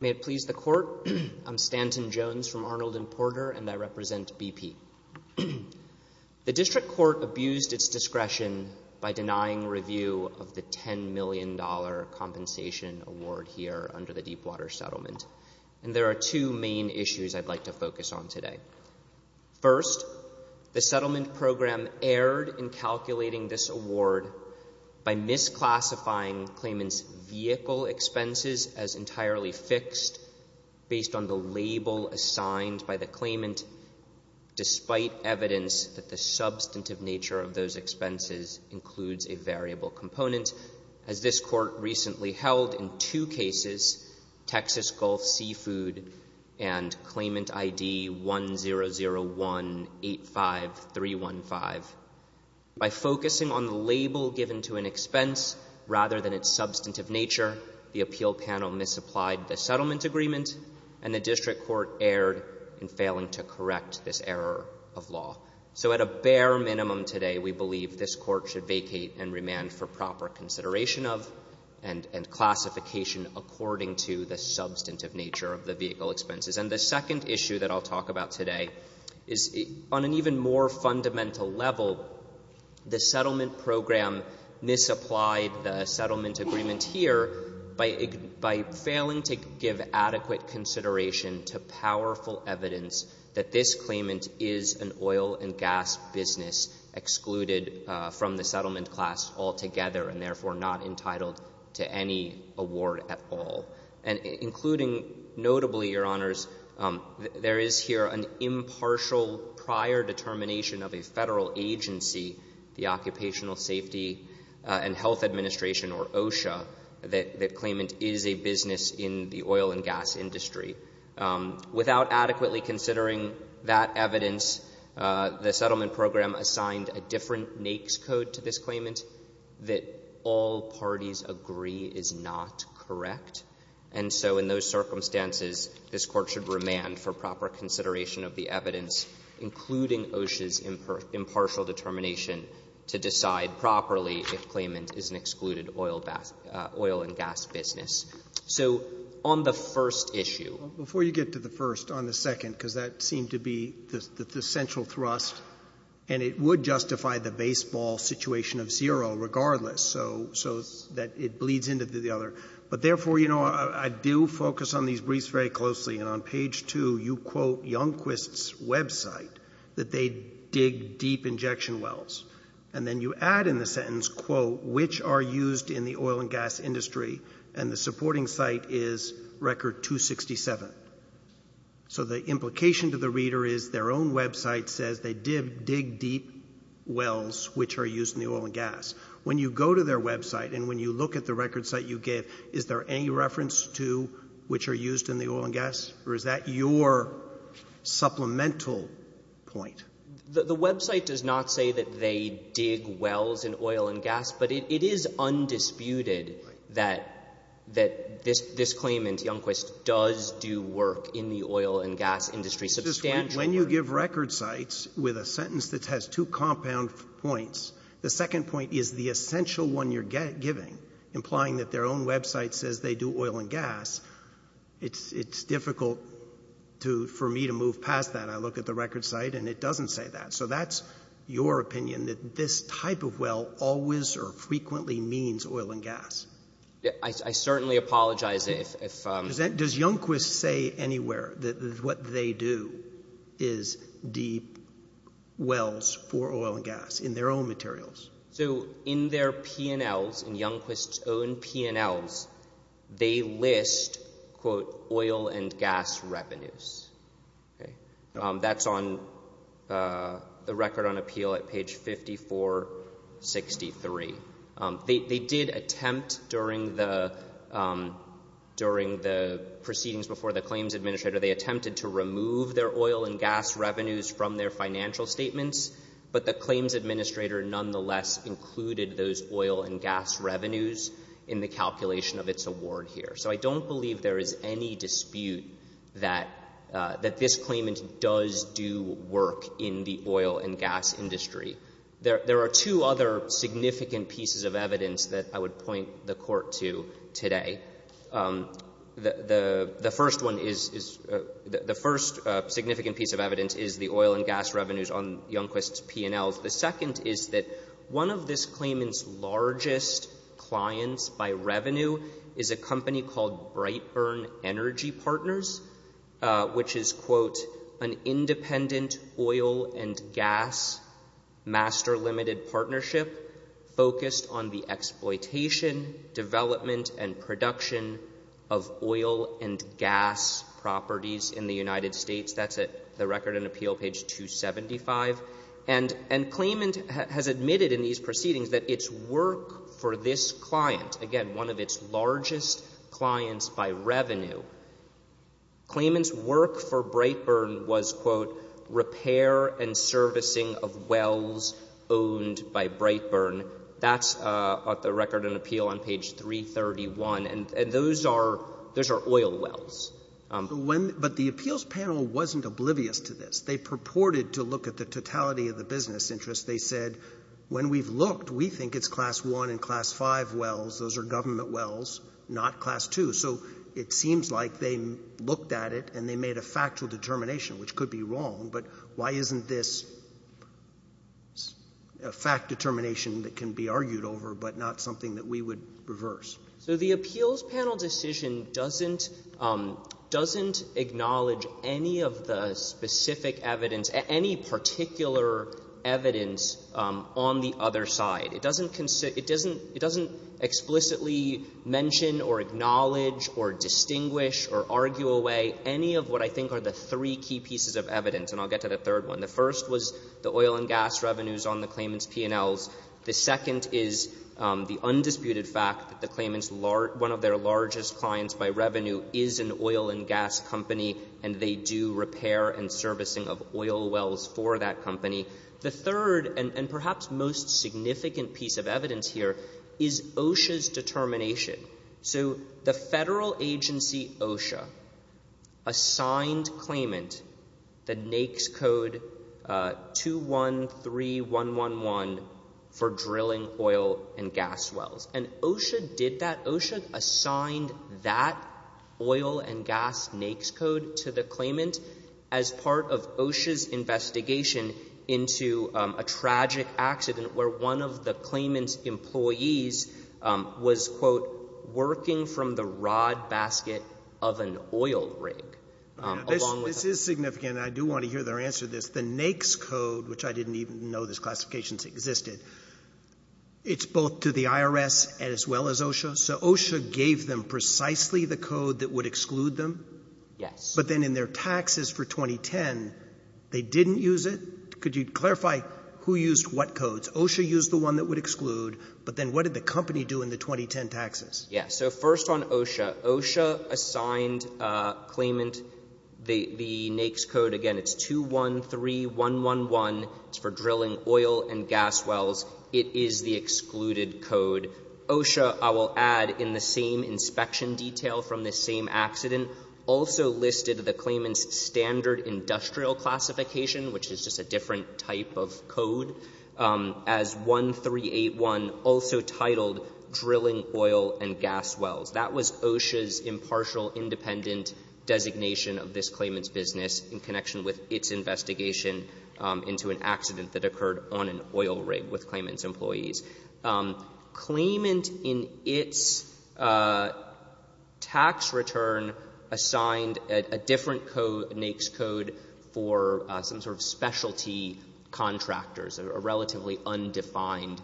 May it please the Court, I'm Stanton Jones from Arnold and Porter, and I represent BP. The District Court abused its discretion by denying review of the $10 million compensation award here under the Deepwater Settlement, and there are two main issues I'd like to By misclassifying claimant's vehicle expenses as entirely fixed, based on the label assigned by the claimant, despite evidence that the substantive nature of those expenses includes a variable component, as this Court recently held in two cases, Texas Gulf Seafood and Claimant ID 100185315. By focusing on the label given to an expense rather than its substantive nature, the appeal panel misapplied the settlement agreement, and the District Court erred in failing to correct this error of law. So at a bare minimum today, we believe this Court should vacate and remand for proper consideration of and classification according to the substantive nature of the vehicle expenses. And the second issue that I'll talk about today is on an even more fundamental level, the settlement program misapplied the settlement agreement here by failing to give adequate consideration to powerful evidence that this claimant is an oil and gas business excluded from the settlement class altogether, and therefore not entitled to any award at all. And including notably, Your Honors, there is here an impartial prior determination of a Federal agency, the Occupational Safety and Health Administration, or OSHA, that the claimant is a business in the oil and gas industry. Without adequately considering that evidence, the settlement program assigned a different NAICS code to this claimant, that all parties agree is not correct. And so in those circumstances, this Court should remand for proper consideration of the evidence, including OSHA's impartial determination to decide properly if claimant is an excluded oil and gas business. So on the first issue ---- Roberts, before you get to the first, on the second, because that seemed to be the baseball situation of zero regardless, so that it bleeds into the other. But therefore, you know, I do focus on these briefs very closely. And on page 2, you quote Younquist's website, that they dig deep injection wells. And then you add in the sentence, quote, which are used in the oil and gas industry, and the supporting site is Record 267. So the implication to the reader is their own website says they dig deep wells, which are used in the oil and gas. When you go to their website and when you look at the record site you gave, is there any reference to which are used in the oil and gas, or is that your supplemental point? The website does not say that they dig wells in oil and gas, but it is undisputed that this claim in Younquist does do work in the oil and gas industry substantially. When you give record sites with a sentence that has two compound points, the second point is the essential one you're giving, implying that their own website says they do oil and gas, it's difficult for me to move past that. I look at the record site and it doesn't say that. So that's your opinion, that this type of well always or frequently means oil and gas. I certainly apologize if... Does Younquist say anywhere that what they do is deep wells for oil and gas in their own materials? So in their P&Ls, in Younquist's own P&Ls, they list, quote, oil and gas revenues. That's on the record on appeal at page 5463. They did attempt during the proceedings before the claims administrator, they attempted to remove their oil and gas revenues from their financial statements, but the claims administrator nonetheless included those oil and gas revenues in the calculation of its award here. So I don't believe there is any dispute that this claimant does do work in the oil and gas industry. There are two other significant pieces of evidence that I would point the Court to today. The first one is, the first significant piece of evidence is the oil and gas revenues on Younquist's P&Ls. The second is that one of this claimant's largest clients by revenue is a company called Master Limited Partnership, focused on the exploitation, development, and production of oil and gas properties in the United States. That's at the record on appeal, page 275. And claimant has admitted in these proceedings that its work for this client, again, one of its largest clients by revenue, claimant's work for Brightburn was, quote, repair and by Brightburn. That's at the record on appeal on page 331. And those are — those are oil wells. Roberts. But when — but the appeals panel wasn't oblivious to this. They purported to look at the totality of the business interest. They said, when we've looked, we think it's class 1 and class 5 wells. Those are government wells, not class 2. So it seems like they looked at it and they made a factual determination, which could be wrong. But why isn't this a fact determination that can be argued over, but not something that we would reverse? So the appeals panel decision doesn't — doesn't acknowledge any of the specific evidence, any particular evidence on the other side. It doesn't — it doesn't — it doesn't explicitly mention or acknowledge or distinguish or argue away any of what I think are the three key pieces of evidence. And I'll get to the third one. The first was the oil and gas revenues on the claimant's P&Ls. The second is the undisputed fact that the claimant's — one of their largest clients by revenue is an oil and gas company, and they do repair and servicing of oil wells for that company. The third, and perhaps most significant piece of evidence here, is OSHA's determination. So the federal agency OSHA assigned claimant the NAICS code 213111 for drilling oil and gas wells. And OSHA did that. OSHA assigned that oil and gas NAICS code to the claimant as part of OSHA's investigation into a tragic accident where one of the claimant's employees was, quote, working from the rod basket of an oil rig, along with — This is significant. I do want to hear their answer to this. The NAICS code, which I didn't even know this classification existed, it's both to the IRS and as well as OSHA. So OSHA gave them precisely the code that would exclude them? Yes. But then in their taxes for 2010, they didn't use it? Could you clarify who used what codes? OSHA used the one that would exclude, but then what did the company do in the 2010 taxes? So first on OSHA, OSHA assigned claimant the NAICS code. Again, it's 213111. It's for drilling oil and gas wells. It is the excluded code. OSHA, I will add, in the same inspection detail from the same accident, also listed the claimant's standard industrial classification, which is just a different type of code, as 1381, also titled drilling oil and gas wells. That was OSHA's impartial, independent designation of this claimant's business in connection with its investigation into an accident that occurred on an oil rig with claimant's employees. Claimant, in its tax return, assigned a different code, NAICS code, for some sort of specialty contractors, relatively undefined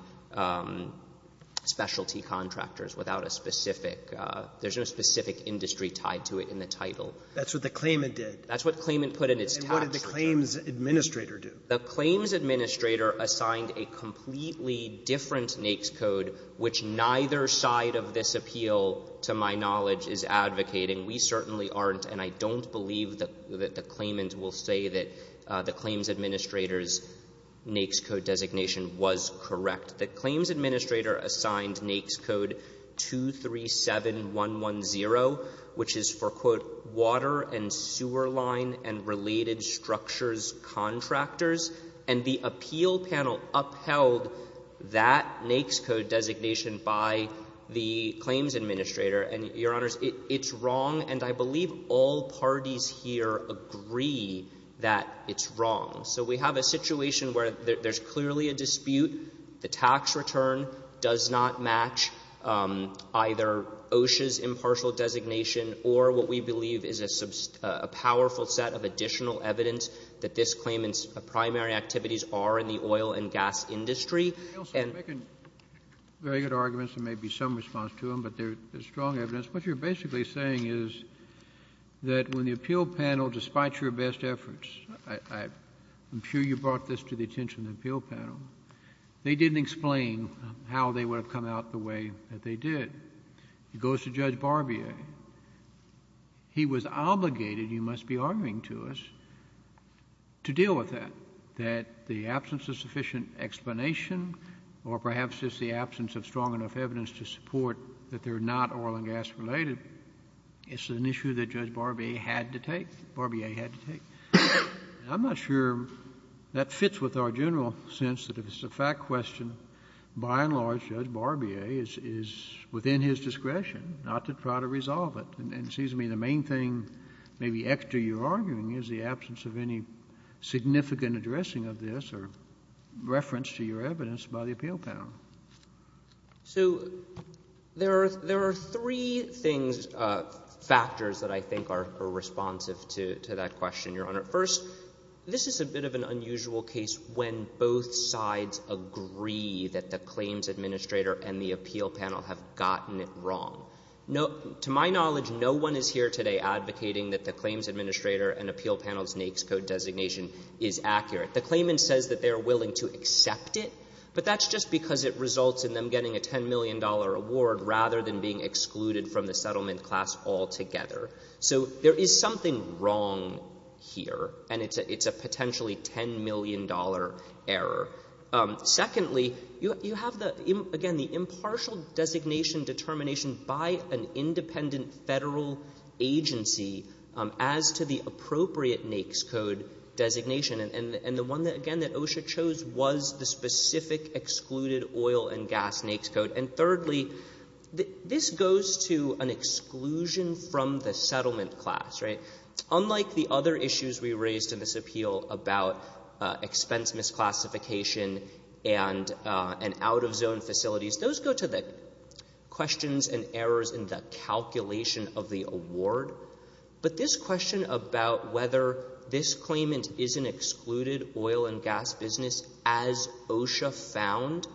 specialty contractors without a specific — there's no specific industry tied to it in the title. That's what the claimant did? That's what claimant put in its tax return. And what did the claims administrator do? The claims administrator assigned a completely different NAICS code, which neither side of this appeal, to my knowledge, is advocating. We certainly aren't, and I don't believe that the claimant will say that the claims administrator's NAICS code designation was correct. The claims administrator assigned NAICS code 237110, which is for, quote, water and sewer line and related structures contractors. And the appeal panel upheld that NAICS code designation by the claims administrator. And, Your Honors, it's wrong, and I believe all parties here agree that it's wrong. So we have a situation where there's clearly a dispute. The tax return does not match either OSHA's impartial designation or what we believe is a powerful set of additional evidence that this claimant's primary activities are in the oil and gas industry. And — Kennedy, you're making very good arguments. There may be some response to them, but there's strong evidence. What you're basically saying is that when the appeal panel, despite your best efforts — I'm sure you brought this to the attention of the appeal panel — they didn't explain how they would have come out the way that they did. It goes to Judge Barbier. He was obligated, you must be arguing to us, to deal with that, that the absence of sufficient explanation or perhaps just the absence of strong enough evidence to support that they're not oil and gas related, it's an issue that Judge Barbier had to take, Barbier had to take. And I'm not sure that fits with our general sense that if it's a fact question, by and And, excuse me, the main thing, maybe, Hector, you're arguing is the absence of any significant addressing of this or reference to your evidence by the appeal panel. So there are — there are three things — factors that I think are responsive to that question, Your Honor. First, this is a bit of an unusual case when both sides agree that the claims administrator and the appeal panel have gotten it wrong. No — to my knowledge, no one is here today advocating that the claims administrator and appeal panel's NAICS code designation is accurate. The claimant says that they are willing to accept it, but that's just because it results in them getting a $10 million award rather than being excluded from the settlement class altogether. So there is something wrong here, and it's a — it's a potentially $10 million error. Secondly, you have the — again, the impartial designation determination by an independent Federal agency as to the appropriate NAICS code designation. And the one that — again, that OSHA chose was the specific excluded oil and gas NAICS code. And thirdly, this goes to an exclusion from the settlement class, right? Expense misclassification and out-of-zone facilities, those go to the questions and errors in the calculation of the award. But this question about whether this claimant is an excluded oil and gas business as OSHA found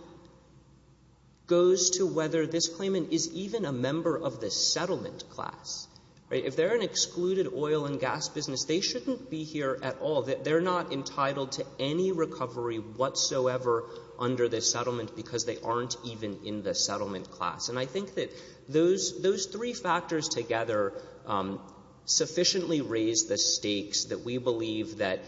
goes to whether this claimant is even a member of the settlement class, right? If they're an excluded oil and gas business, they shouldn't be here at all. They're not entitled to any recovery whatsoever under this settlement because they aren't even in the settlement class. And I think that those — those three factors together sufficiently raise the stakes that we believe that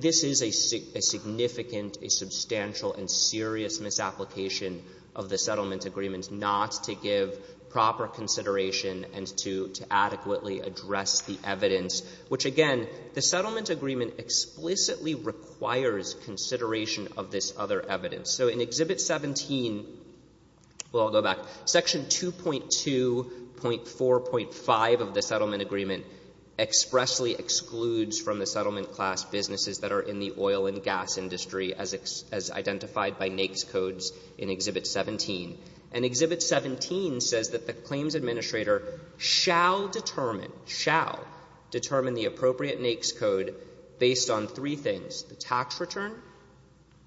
this is a significant, a substantial and serious misapplication of the settlement agreement not to give proper consideration and to adequately address the evidence. Which, again, the settlement agreement explicitly requires consideration of this other evidence. So in Exhibit 17 — well, I'll go back. Section 2.2.4.5 of the settlement agreement expressly excludes from the settlement class businesses that are in the oil and gas industry as identified by NAICS codes in Exhibit 17. And Exhibit 17 says that the claims administrator shall determine — shall determine the appropriate NAICS code based on three things, the tax return,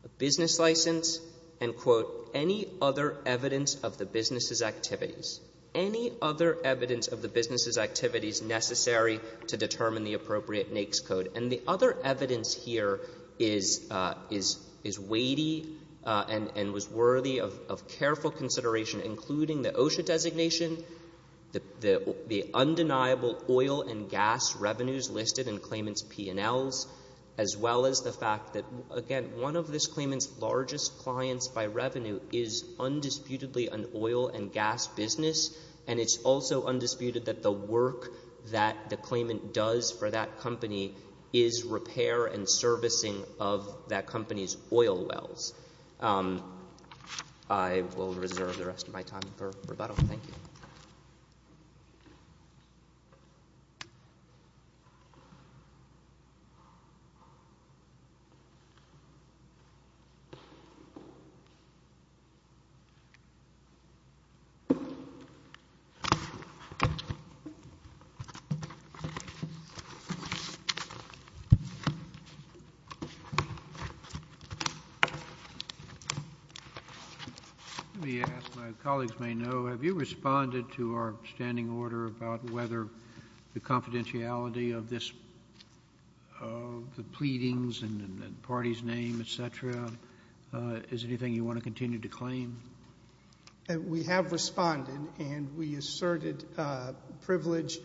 a business license, and, quote, any other evidence of the business's activities. Any other evidence of the business's activities necessary to determine the appropriate NAICS code. And the other evidence here is — is weighty and was worthy of careful consideration, including the OSHA designation, the undeniable oil and gas revenues listed in claimant's P&Ls, as well as the fact that, again, one of this claimant's largest clients by revenue is undisputedly an oil and gas business, and it's also undisputed that the work that the claimant does for that company is repair and servicing of that company's oil wells. I will reserve the rest of my time for rebuttal. Thank you. Let me ask, my colleagues may know, have you responded to our standing order about whether the confidentiality of this — of the pleadings and the party's name, et cetera, is anything you want to continue to claim? And we have responded, and we asserted privilege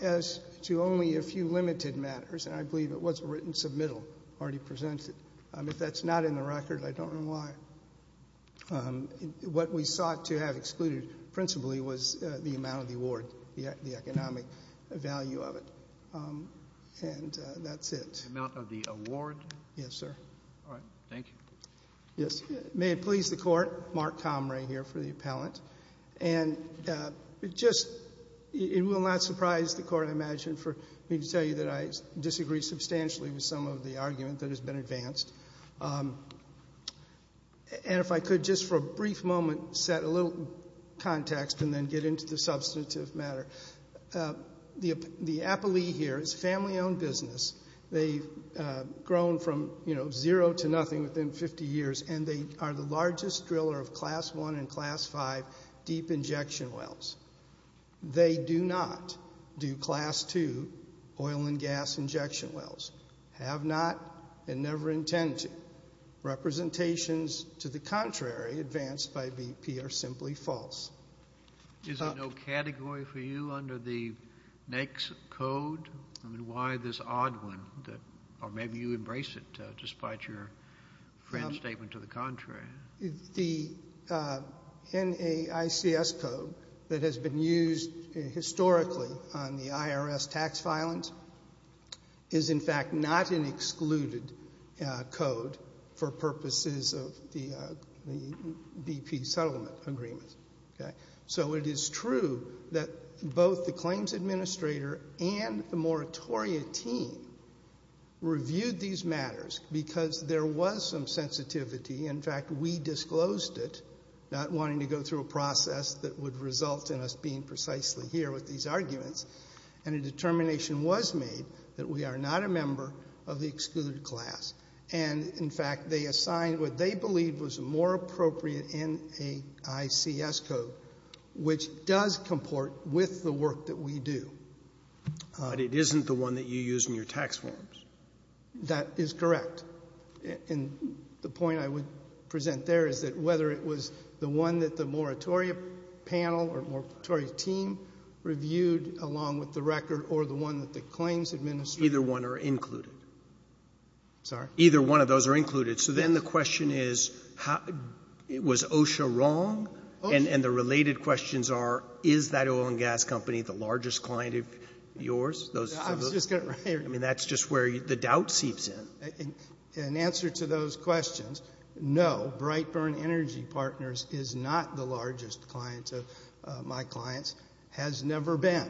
as to only a few limited matters, and I believe it was a written submittal already presented. If that's not in the record, I don't know why. What we sought to have excluded principally was the amount of the award, the economic value of it, and that's it. The amount of the award? Yes, sir. All right. Thank you. Yes. May it please the Court, Mark Comrie here for the appellant, and it just — it will not surprise the Court, I imagine, for me to tell you that I disagree substantially with some of the argument that has been advanced. And if I could just for a brief moment set a little context and then get into the substantive matter, the appellee here is family-owned business. They've grown from, you know, zero to nothing within 50 years, and they are the largest driller of Class I and Class V deep injection wells. They do not do Class II oil and gas injection wells, have not, and never intend to. Representations to the contrary advanced by BP are simply false. Is there no category for you under the NAICS code? I mean, why this odd one that — or maybe you embrace it, despite your friend's statement to the contrary. The NAICS code that has been used historically on the IRS tax filings is, in fact, not an excluded code for purposes of the BP settlement agreements. Okay? It is true that both the claims administrator and the moratoria team reviewed these matters because there was some sensitivity. In fact, we disclosed it, not wanting to go through a process that would result in us being precisely here with these arguments. And a determination was made that we are not a member of the excluded class. And, in fact, they assigned what they believed was more appropriate NAICS code, which does comport with the work that we do. But it isn't the one that you use in your tax forms. That is correct. And the point I would present there is that whether it was the one that the moratoria panel or moratoria team reviewed along with the record or the one that the claims administrator — Either one are included. Sorry? Either one of those are included. So then the question is, was OSHA wrong? And the related questions are, is that oil and gas company the largest client of yours? I was just going to — I mean, that's just where the doubt seeps in. In answer to those questions, no, Brightburn Energy Partners is not the largest client of my clients, has never been.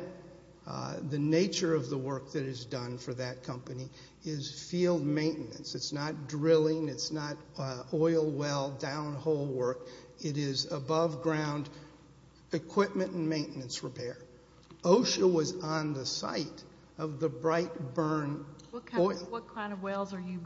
The nature of the work that is done for that company is field maintenance. It's not drilling. It's not oil well down hole work. It is above ground equipment and maintenance repair. OSHA was on the site of the Brightburn oil — What kind of wells are you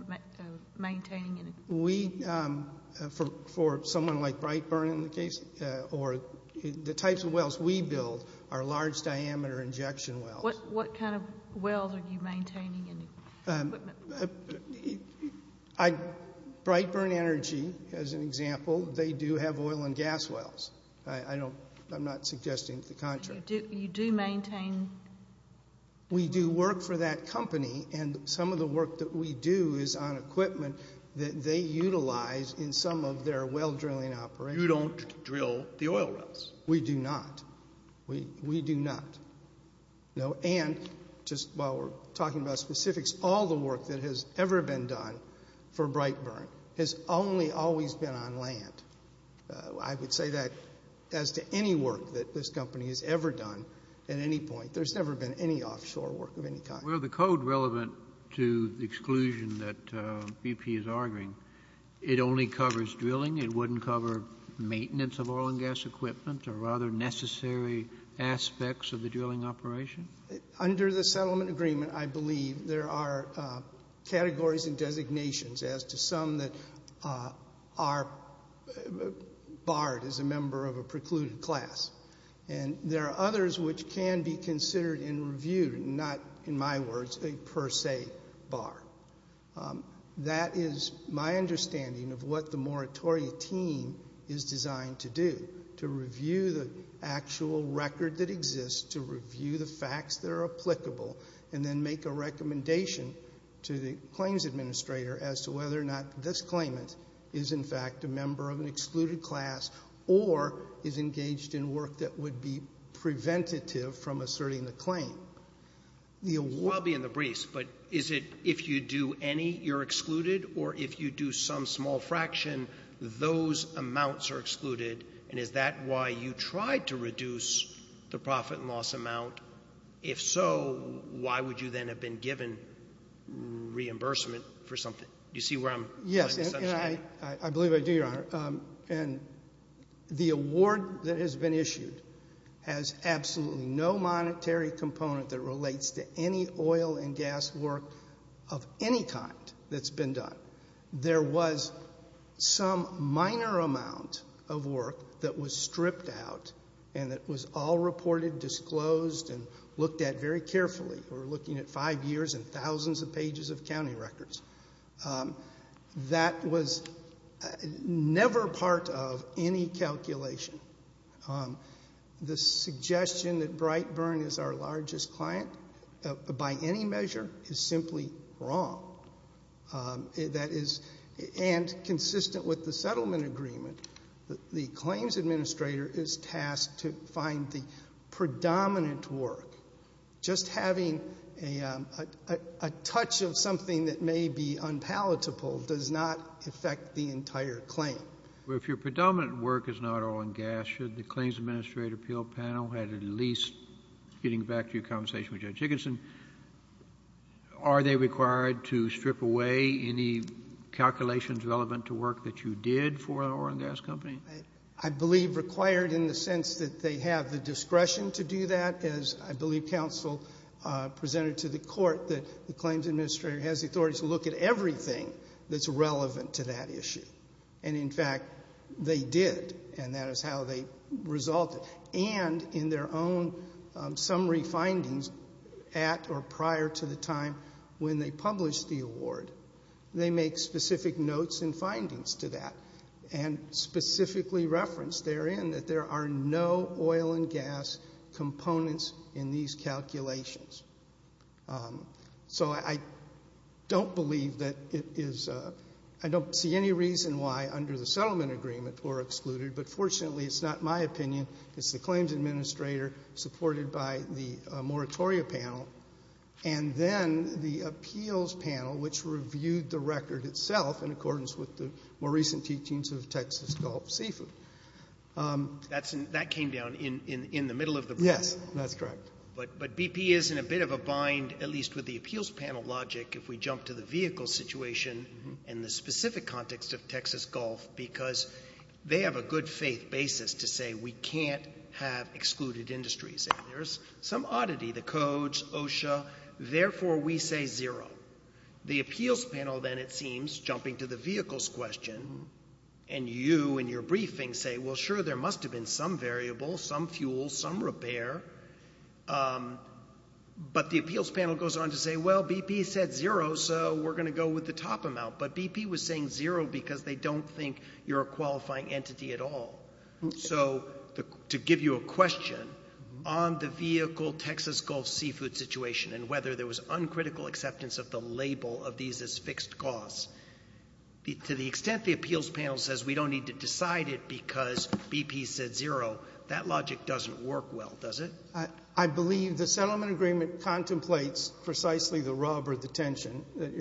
maintaining? We — for someone like Brightburn in the case — or the types of wells we build are large diameter injection wells. What kind of wells are you maintaining? Brightburn Energy, as an example, they do have oil and gas wells. I'm not suggesting the contrary. You do maintain — We do work for that company, and some of the work that we do is on equipment that they utilize in some of their well drilling operations. You don't drill the oil wells? We do not. We do not. And just while we're talking about specifics, all the work that has ever been done for Brightburn has only always been on land. I would say that as to any work that this company has ever done at any point. There's never been any offshore work of any kind. The code relevant to the exclusion that BP is arguing, it only covers drilling? It wouldn't cover maintenance of oil and gas equipment or other necessary aspects of the drilling operation? Under the settlement agreement, I believe there are categories and designations as to some that are barred as a member of a precluded class. And there are others which can be considered in review, not, in my words, a per se bar. That is my understanding of what the moratoria team is designed to do, to review the actual record that exists, to review the facts that are applicable, and then make a recommendation to the claims administrator as to whether or not this claimant is, in fact, a member of an excluded class or is engaged in work that would be preventative from asserting the claim. The award— I'll be in the briefs, but is it if you do any, you're excluded? Or if you do some small fraction, those amounts are excluded? And is that why you tried to reduce the profit and loss amount? If so, why would you then have been given reimbursement for something? Do you see where I'm— Yes, and I believe I do, Your Honor. And the award that has been issued has absolutely no monetary component that relates to any oil and gas work of any kind that's been done. There was some minor amount of work that was stripped out and that was all reported, disclosed, and looked at very carefully. We're looking at five years and thousands of pages of county records. That was never part of any calculation. The suggestion that Brightburn is our largest client, by any measure, is simply wrong. That is—and consistent with the settlement agreement, the claims administrator is tasked to find the predominant work. Just having a touch of something that may be unpalatable does not affect the entire claim. If your predominant work is not oil and gas, should the claims administrator appeal panel have at least—getting back to your conversation with Judge Higginson, are they required to strip away any calculations relevant to work that you did for an oil and gas company? I believe required in the sense that they have the discretion to do that, as I believe counsel presented to the court, that the claims administrator has the authority to look at everything that's relevant to that issue. And in fact, they did. And that is how they resulted. And in their own summary findings at or prior to the time when they published the award, they make specific notes and findings to that and specifically reference therein that there are no oil and gas components in these calculations. So I don't believe that it is—I don't see any reason why, under the settlement agreement, we're excluded. But fortunately, it's not my opinion. It's the claims administrator supported by the moratoria panel. And then the appeals panel, which reviewed the record itself in accordance with the more recent teachings of Texas Gulf Seafood. That came down in the middle of the— Yes, that's correct. But BP is in a bit of a bind, at least with the appeals panel logic, if we jump to the vehicle situation and the specific context of Texas Gulf, because they have a good faith basis to say we can't have excluded industries. There's some oddity, the codes, OSHA. Therefore, we say zero. The appeals panel then, it seems, jumping to the vehicles question, and you in your briefing say, well, sure, there must have been some variable, some fuel, some repair. But the appeals panel goes on to say, well, BP said zero, so we're going to go with the top amount. But BP was saying zero because they don't think you're a qualifying entity at all. So to give you a question on the vehicle Texas Gulf seafood situation and whether there was uncritical acceptance of the label of these as fixed costs, to the extent the appeals panel says we don't need to decide it because BP said zero, that logic doesn't work well, does it? I believe the settlement agreement contemplates precisely the rub or the tension that the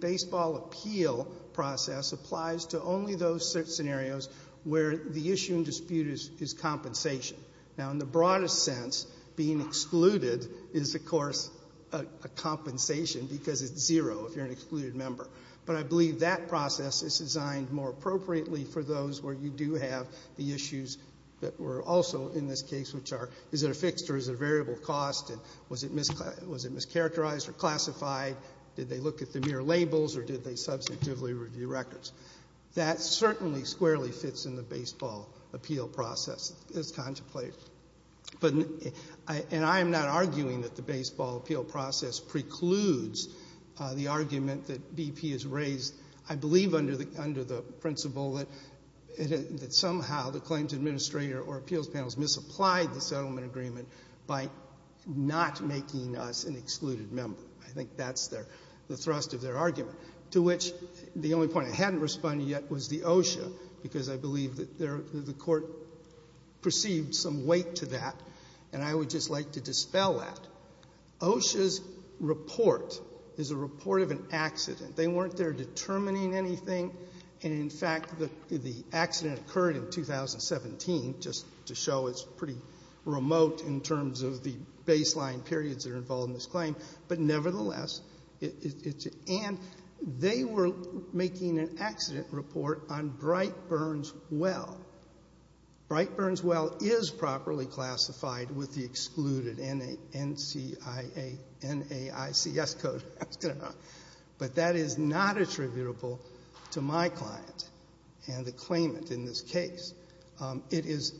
baseball appeal process applies to only those scenarios where the issue and dispute is compensation. Now, in the broadest sense, being excluded is, of course, a compensation because it's zero if you're an excluded member. But I believe that process is designed more appropriately for those where you do have the issues that were also in this case, which are, is it a fixed or is it a variable cost? And was it mischaracterized or classified? Did they look at the mere labels or did they substantively review records? That certainly squarely fits in the baseball appeal process as contemplated. But, and I am not arguing that the baseball appeal process precludes the argument that BP has raised, I believe, under the principle that somehow the claims administrator or appeals panels misapplied the settlement agreement by not making us an excluded member. I think that's their, the thrust of their argument, to which the only point I hadn't responded yet was the OSHA, because I believe that the court perceived some weight to that. And I would just like to dispel that. OSHA's report is a report of an accident. They weren't there determining anything. And in fact, the accident occurred in 2017, just to show it's pretty remote in terms of the baseline periods that are involved in this claim. But nevertheless, it's, and they were making an accident report on Bright-Burns Well. Bright-Burns Well is properly classified with the excluded NAICS code, but that is not attributable to my client and the claimant in this case. It is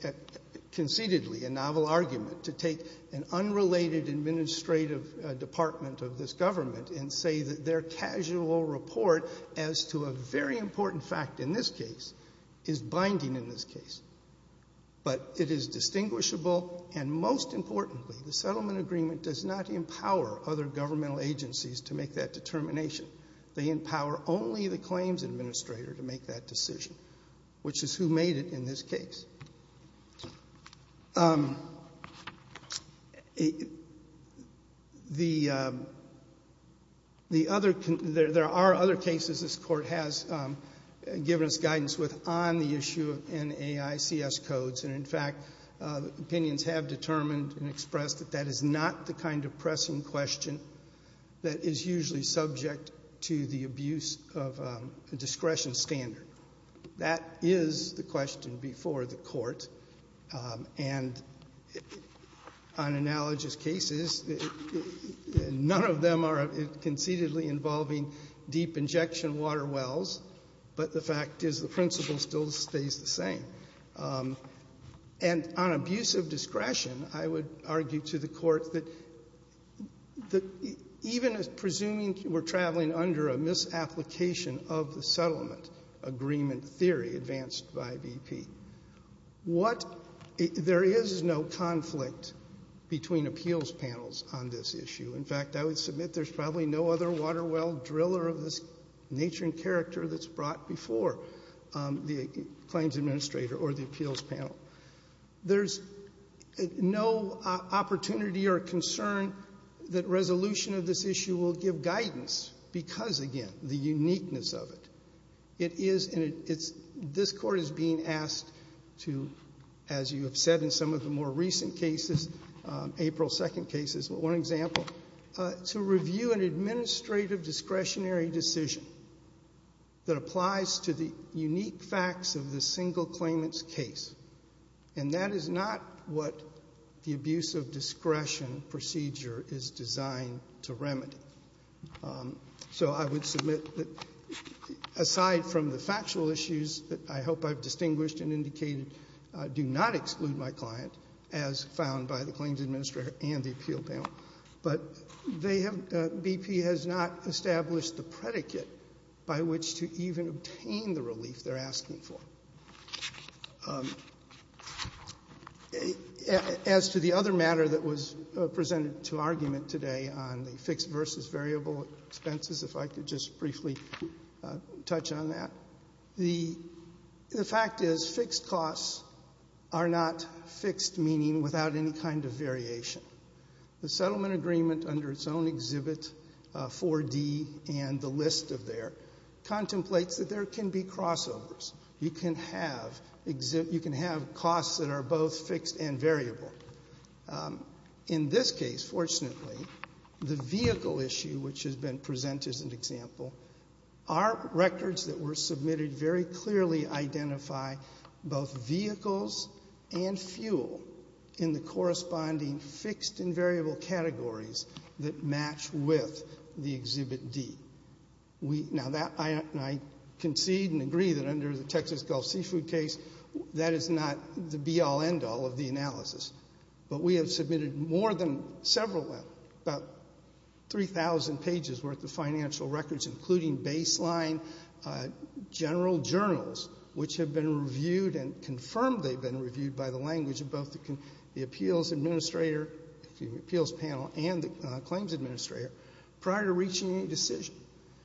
concededly a novel argument to take an unrelated administrative department of this government and say that their casual report as to a very important fact in this case is binding in this case. But it is distinguishable, and most importantly, the settlement agreement does not empower other governmental agencies to make that determination. They empower only the claims administrator to make that decision, which is who made it in this case. The, the other, there are other cases this court has given us guidance with on the issue of NAICS codes. And in fact, opinions have determined and expressed that that is not the kind of pressing question that is usually subject to the abuse of discretion standard. That is the question before the court. And on analogous cases, none of them are concededly involving deep injection water wells, but the fact is the principle still stays the same. And on abuse of discretion, I would argue to the court that, that even if presuming you were traveling under a misapplication of the settlement agreement theory advanced by BP, what, there is no conflict between appeals panels on this issue. In fact, I would submit there's probably no other water well driller of this nature and character that's brought before the claims administrator or the appeals panel. There's no opportunity or concern that resolution of this issue will give guidance because, again, the uniqueness of it. It is, and it's, this court is being asked to, as you have said in some of the more recent cases, April 2nd cases, but one example, to review an administrative discretionary decision that applies to the unique facts of the single claimant's case, and that is not what the abuse of discretion procedure is designed to remedy. So I would submit that, aside from the factual issues that I hope I've distinguished and indicated, do not exclude my client, as found by the claims administrator and the appeal panel. But they have, BP has not established the predicate by which to even obtain the relief they're asking for. As to the other matter that was presented to argument today on the fixed versus variable expenses, if I could just briefly touch on that, the fact is fixed costs are not fixed, meaning without any kind of variation. The settlement agreement under its own exhibit 4D and the list of there contemplates that there can be crossovers. You can have costs that are both fixed and variable. In this case, fortunately, the vehicle issue, which has been presented as an example, our records that were submitted very clearly identify both vehicles and fuel in the corresponding fixed and variable categories that match with the exhibit D. Now, I concede and agree that under the Texas Gulf Seafood case, that is not the be-all, end-all of the analysis. But we have submitted more than several, about 3,000 pages worth of financial records, including baseline general journals, which have been reviewed and confirmed they've been reviewed by the language of both the appeals panel and the claims administrator prior to reaching any decision.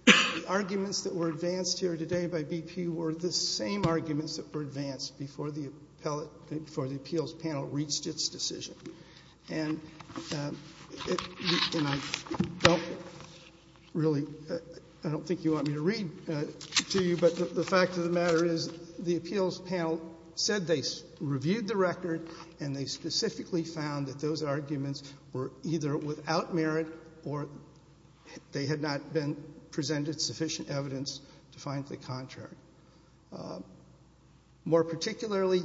The arguments that were advanced here today by BP were the same arguments that were advanced before the appeals panel reached its decision. And I don't really, I don't think you want me to read to you, but the fact of the matter is the appeals panel said they reviewed the record and they specifically found that those arguments were either without merit or they had not been presented sufficient evidence to find the contrary. More particularly,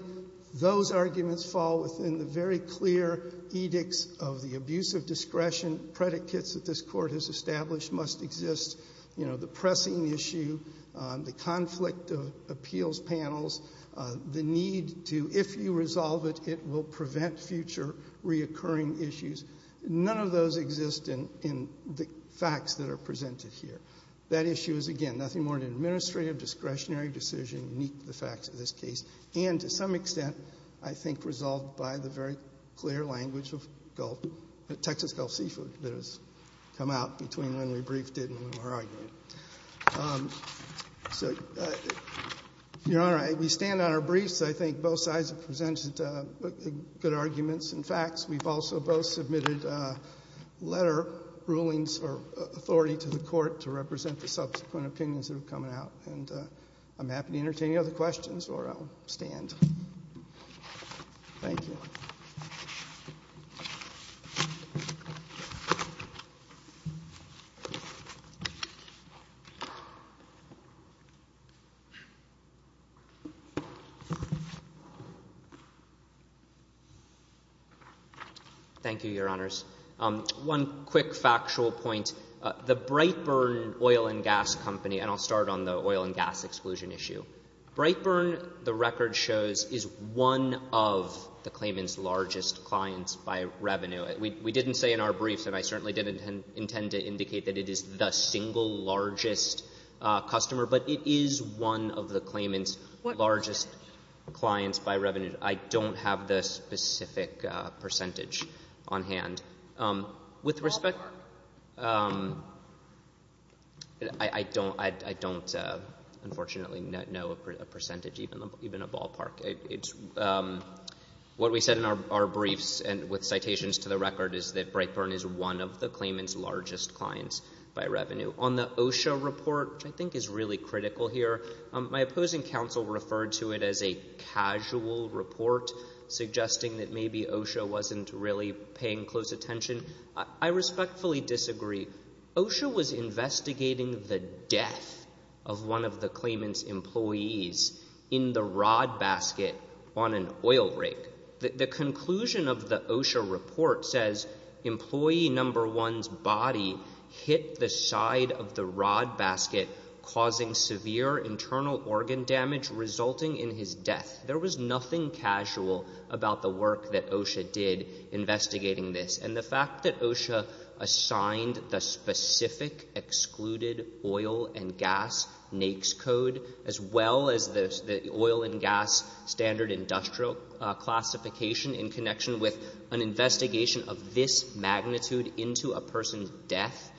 those arguments fall within the very clear edicts of the abusive discretion predicates that this court has established must exist. You know, the pressing issue, the conflict of appeals panels, the need to, if you resolve it, it will prevent future reoccurring issues. None of those exist in the facts that are presented here. That issue is, again, nothing more than an administrative discretionary decision, unique to the facts of this case, and to some extent, I think, resolved by the very clear language of Gulf, Texas Gulf Seafood that has come out between when we briefed it and when we were arguing. So, Your Honor, we stand on our briefs. I think both sides have presented good arguments and facts. We've also both submitted letter rulings for authority to the court to represent the subsequent opinions that are coming out, and I'm happy to entertain any other questions or I'll stand. Thank you. Thank you, Your Honors. One quick factual point. The Brightburn Oil and Gas Company, and I'll start on the oil and gas exclusion issue. Brightburn, the record shows, is one of the claimant's largest clients by revenue. We didn't say in our briefs, and I certainly didn't intend to indicate that it is the single largest customer, but it is one of the claimant's largest clients by revenue. I don't have the specific percentage on hand. With respect— Ballpark. I don't, unfortunately, know a percentage, even a ballpark. What we said in our briefs and with citations to the record is that Brightburn is one of the claimant's largest clients by revenue. On the OSHA report, which I think is really critical here, my opposing counsel referred to it as a casual report, suggesting that maybe OSHA wasn't really paying close attention. I respectfully disagree. OSHA was investigating the death of one of the claimant's employees in the rod basket on an oil rig. The conclusion of the OSHA report says employee number one's body hit the side of the rod There was nothing casual about the work that OSHA did investigating this. And the fact that OSHA assigned the specific excluded oil and gas NAICS code as well as the oil and gas standard industrial classification in connection with an investigation of this magnitude into a person's death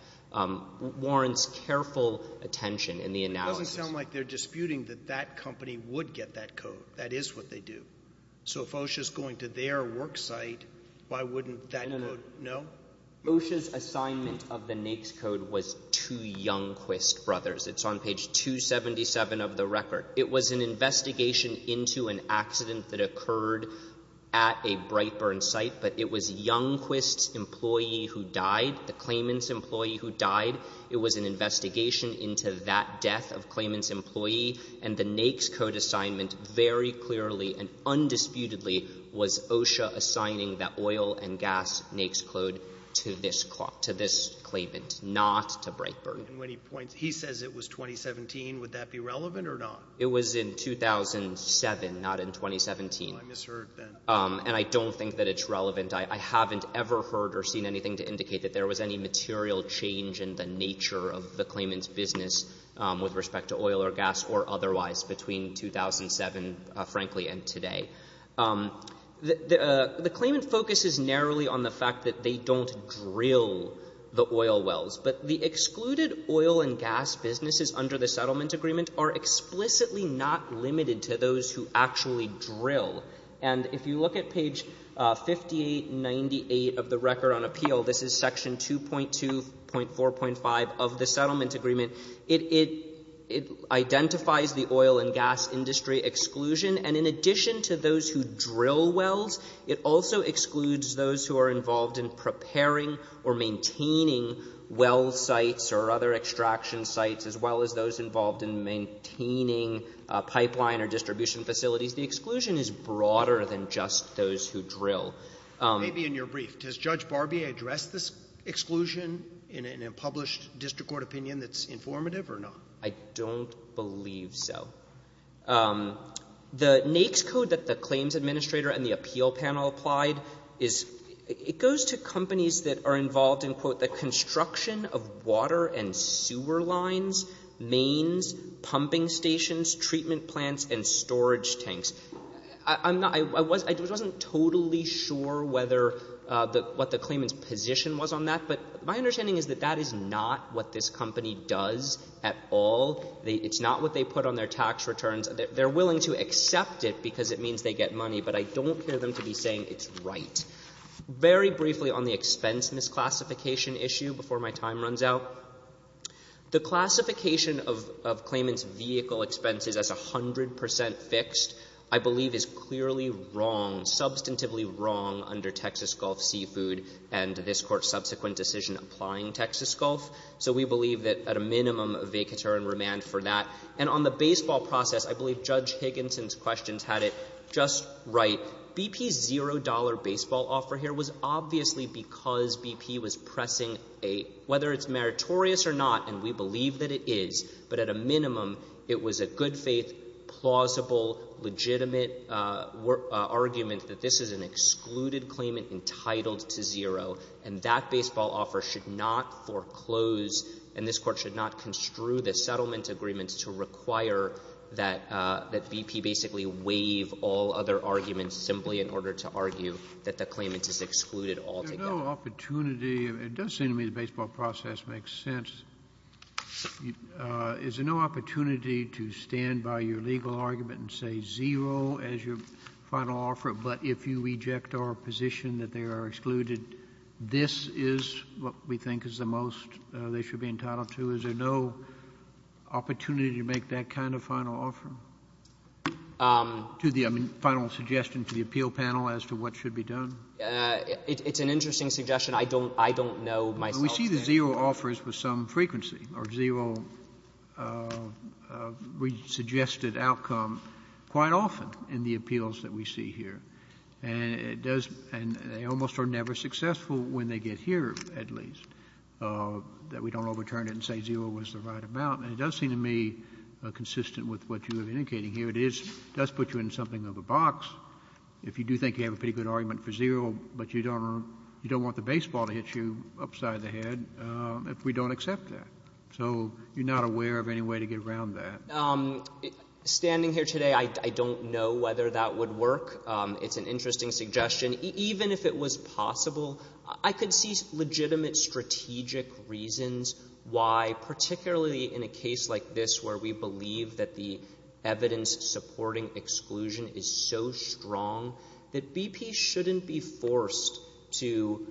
warrants careful attention in the analysis. It doesn't sound like they're disputing that that company would get that code. That is what they do. So if OSHA's going to their work site, why wouldn't that code know? OSHA's assignment of the NAICS code was to Youngquist Brothers. It's on page 277 of the record. It was an investigation into an accident that occurred at a Brightburn site, but it was Youngquist's employee who died, the claimant's employee who died. It was an investigation into that death of claimant's employee, and the NAICS code assignment very clearly and undisputedly was OSHA assigning that oil and gas NAICS code to this claimant, not to Brightburn. And when he points, he says it was 2017. Would that be relevant or not? It was in 2007, not in 2017. Well, I misheard then. And I don't think that it's relevant. I haven't ever heard or seen anything to indicate that there was any material change in the nature of the claimant's business with respect to oil or gas or otherwise between 2007, frankly, and today. The claimant focuses narrowly on the fact that they don't drill the oil wells. But the excluded oil and gas businesses under the settlement agreement are explicitly not limited to those who actually drill. And if you look at page 5898 of the Record on Appeal, this is section 2.2.4.5 of the settlement agreement, it identifies the oil and gas industry exclusion. And in addition to those who drill wells, it also excludes those who are involved in preparing or maintaining well sites or other extraction sites, as well as those involved in maintaining pipeline or distribution facilities. The exclusion is broader than just those who drill. Maybe in your brief. Does Judge Barbier address this exclusion in a published district court opinion that's informative or not? I don't believe so. The NAICS code that the claims administrator and the appeal panel applied, it goes to companies that are involved in, quote, the construction of water and sewer lines, mains, pumping stations, treatment plants, and storage tanks. I'm not — I wasn't totally sure whether — what the claimant's position was on that. But my understanding is that that is not what this company does at all. It's not what they put on their tax returns. They're willing to accept it because it means they get money. But I don't hear them to be saying it's right. Very briefly on the expense misclassification issue, before my time runs out. The classification of claimant's vehicle expenses as 100 percent fixed, I believe, is clearly wrong, substantively wrong, under Texas Gulf Seafood and this Court's subsequent decision applying Texas Gulf. So we believe that, at a minimum, a vacatur and remand for that. And on the baseball process, I believe Judge Higginson's questions had it just right. BP's $0 baseball offer here was obviously because BP was pressing a — whether it's meritorious or not, and we believe that it is, but at a minimum, it was a good-faith, plausible, legitimate argument that this is an excluded claimant entitled to zero. And that baseball offer should not foreclose, and this Court should not construe the settlement agreements to require that BP basically waive all other arguments simply in order to argue that the claimant is excluded altogether. Is there no opportunity — it does seem to me the baseball process makes sense. Is there no opportunity to stand by your legal argument and say zero as your final offer, but if you reject our position that they are excluded, this is what we think is the most they should be entitled to? Is there no opportunity to make that kind of final offer? To the — I mean, final suggestion to the appeal panel as to what should be done? It's an interesting suggestion. I don't know myself. We see the zero offers with some frequency, or zero suggested outcome quite often in the appeals that we see here. And it does — and they almost are never successful when they get here, at least, that we don't overturn it and say zero was the right amount. And it does seem to me consistent with what you are indicating here. It is — does put you in something of a box. If you do think you have a pretty good argument for zero, but you don't want the baseball to hit you upside the head, if we don't accept that. So you're not aware of any way to get around that. Standing here today, I don't know whether that would work. It's an interesting suggestion. Even if it was possible, I could see legitimate strategic reasons why, particularly in a case like this where we believe that the evidence supporting exclusion is so strong that BP shouldn't be forced to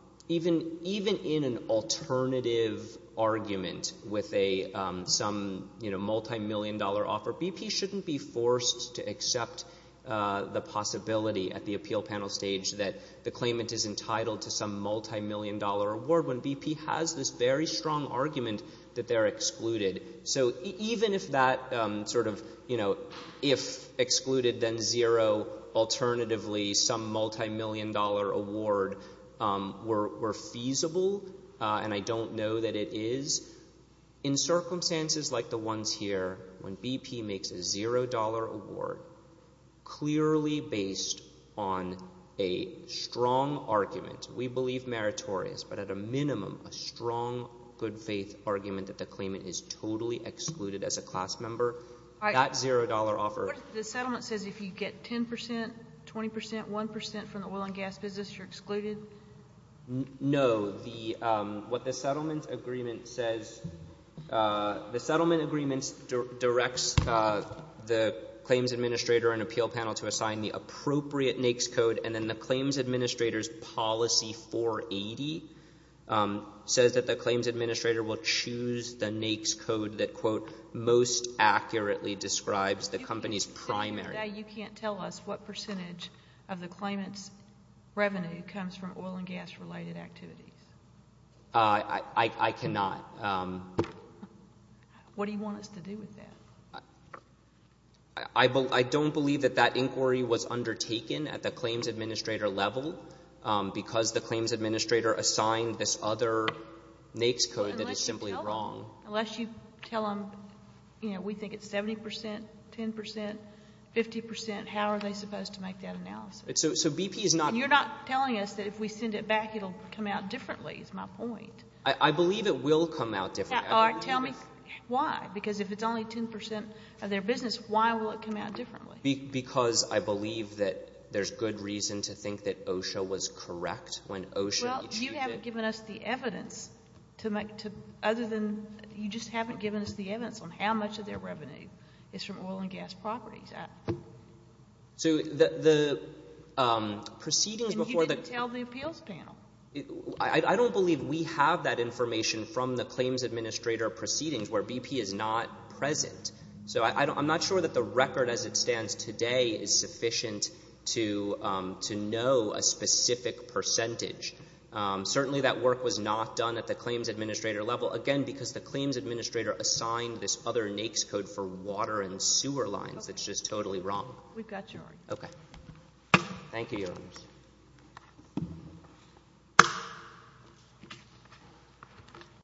— even in an alternative argument with a — some multimillion-dollar offer, BP shouldn't be forced to accept the possibility at the appeal panel stage that the claimant is entitled to some multimillion-dollar award when BP has this very strong argument that they're excluded. So even if that sort of, you know, if excluded, then zero, alternatively some multimillion-dollar award were feasible, and I don't know that it is, in circumstances like the ones here when BP makes a zero-dollar award, clearly based on a strong argument — we believe meritorious, but at a minimum, a strong good-faith argument that the claimant is totally excluded as a class member, that zero-dollar offer — What if the settlement says if you get 10 percent, 20 percent, 1 percent from the oil and gas business, you're excluded? No. What the settlement agreement says — the settlement agreement directs the claims administrator and appeal panel to assign the appropriate NAICS code and then the claims administrator's policy 480 says that the claims administrator will choose the NAICS code that, quote, most accurately describes the company's primary — Now you can't tell us what percentage of the claimant's revenue comes from oil and gas-related activities. I cannot. What do you want us to do with that? I don't believe that that inquiry was undertaken at the claims administrator level because the claims administrator assigned this other NAICS code that is simply wrong. Unless you tell them, you know, we think it's 70 percent, 10 percent, 50 percent, how are they supposed to make that analysis? So BP is not — You're not telling us that if we send it back, it'll come out differently, is my point. I believe it will come out differently. Tell me why. Because if it's only 10 percent of their business, why will it come out differently? Because I believe that there's good reason to think that OSHA was correct when OSHA issued it. Well, you haven't given us the evidence to make — other than — you just haven't given us the evidence on how much of their revenue is from oil and gas properties. So the proceedings before the — And you didn't tell the appeals panel. I don't believe we have that information from the claims administrator proceedings where BP is not present. So I'm not sure that the record as it stands today is sufficient to know a specific percentage. Certainly, that work was not done at the claims administrator level, again, because the claims administrator assigned this other NAICS code for water and sewer lines. It's just totally wrong. We've got your order. Okay. Thank you, Your Honors. Thank you.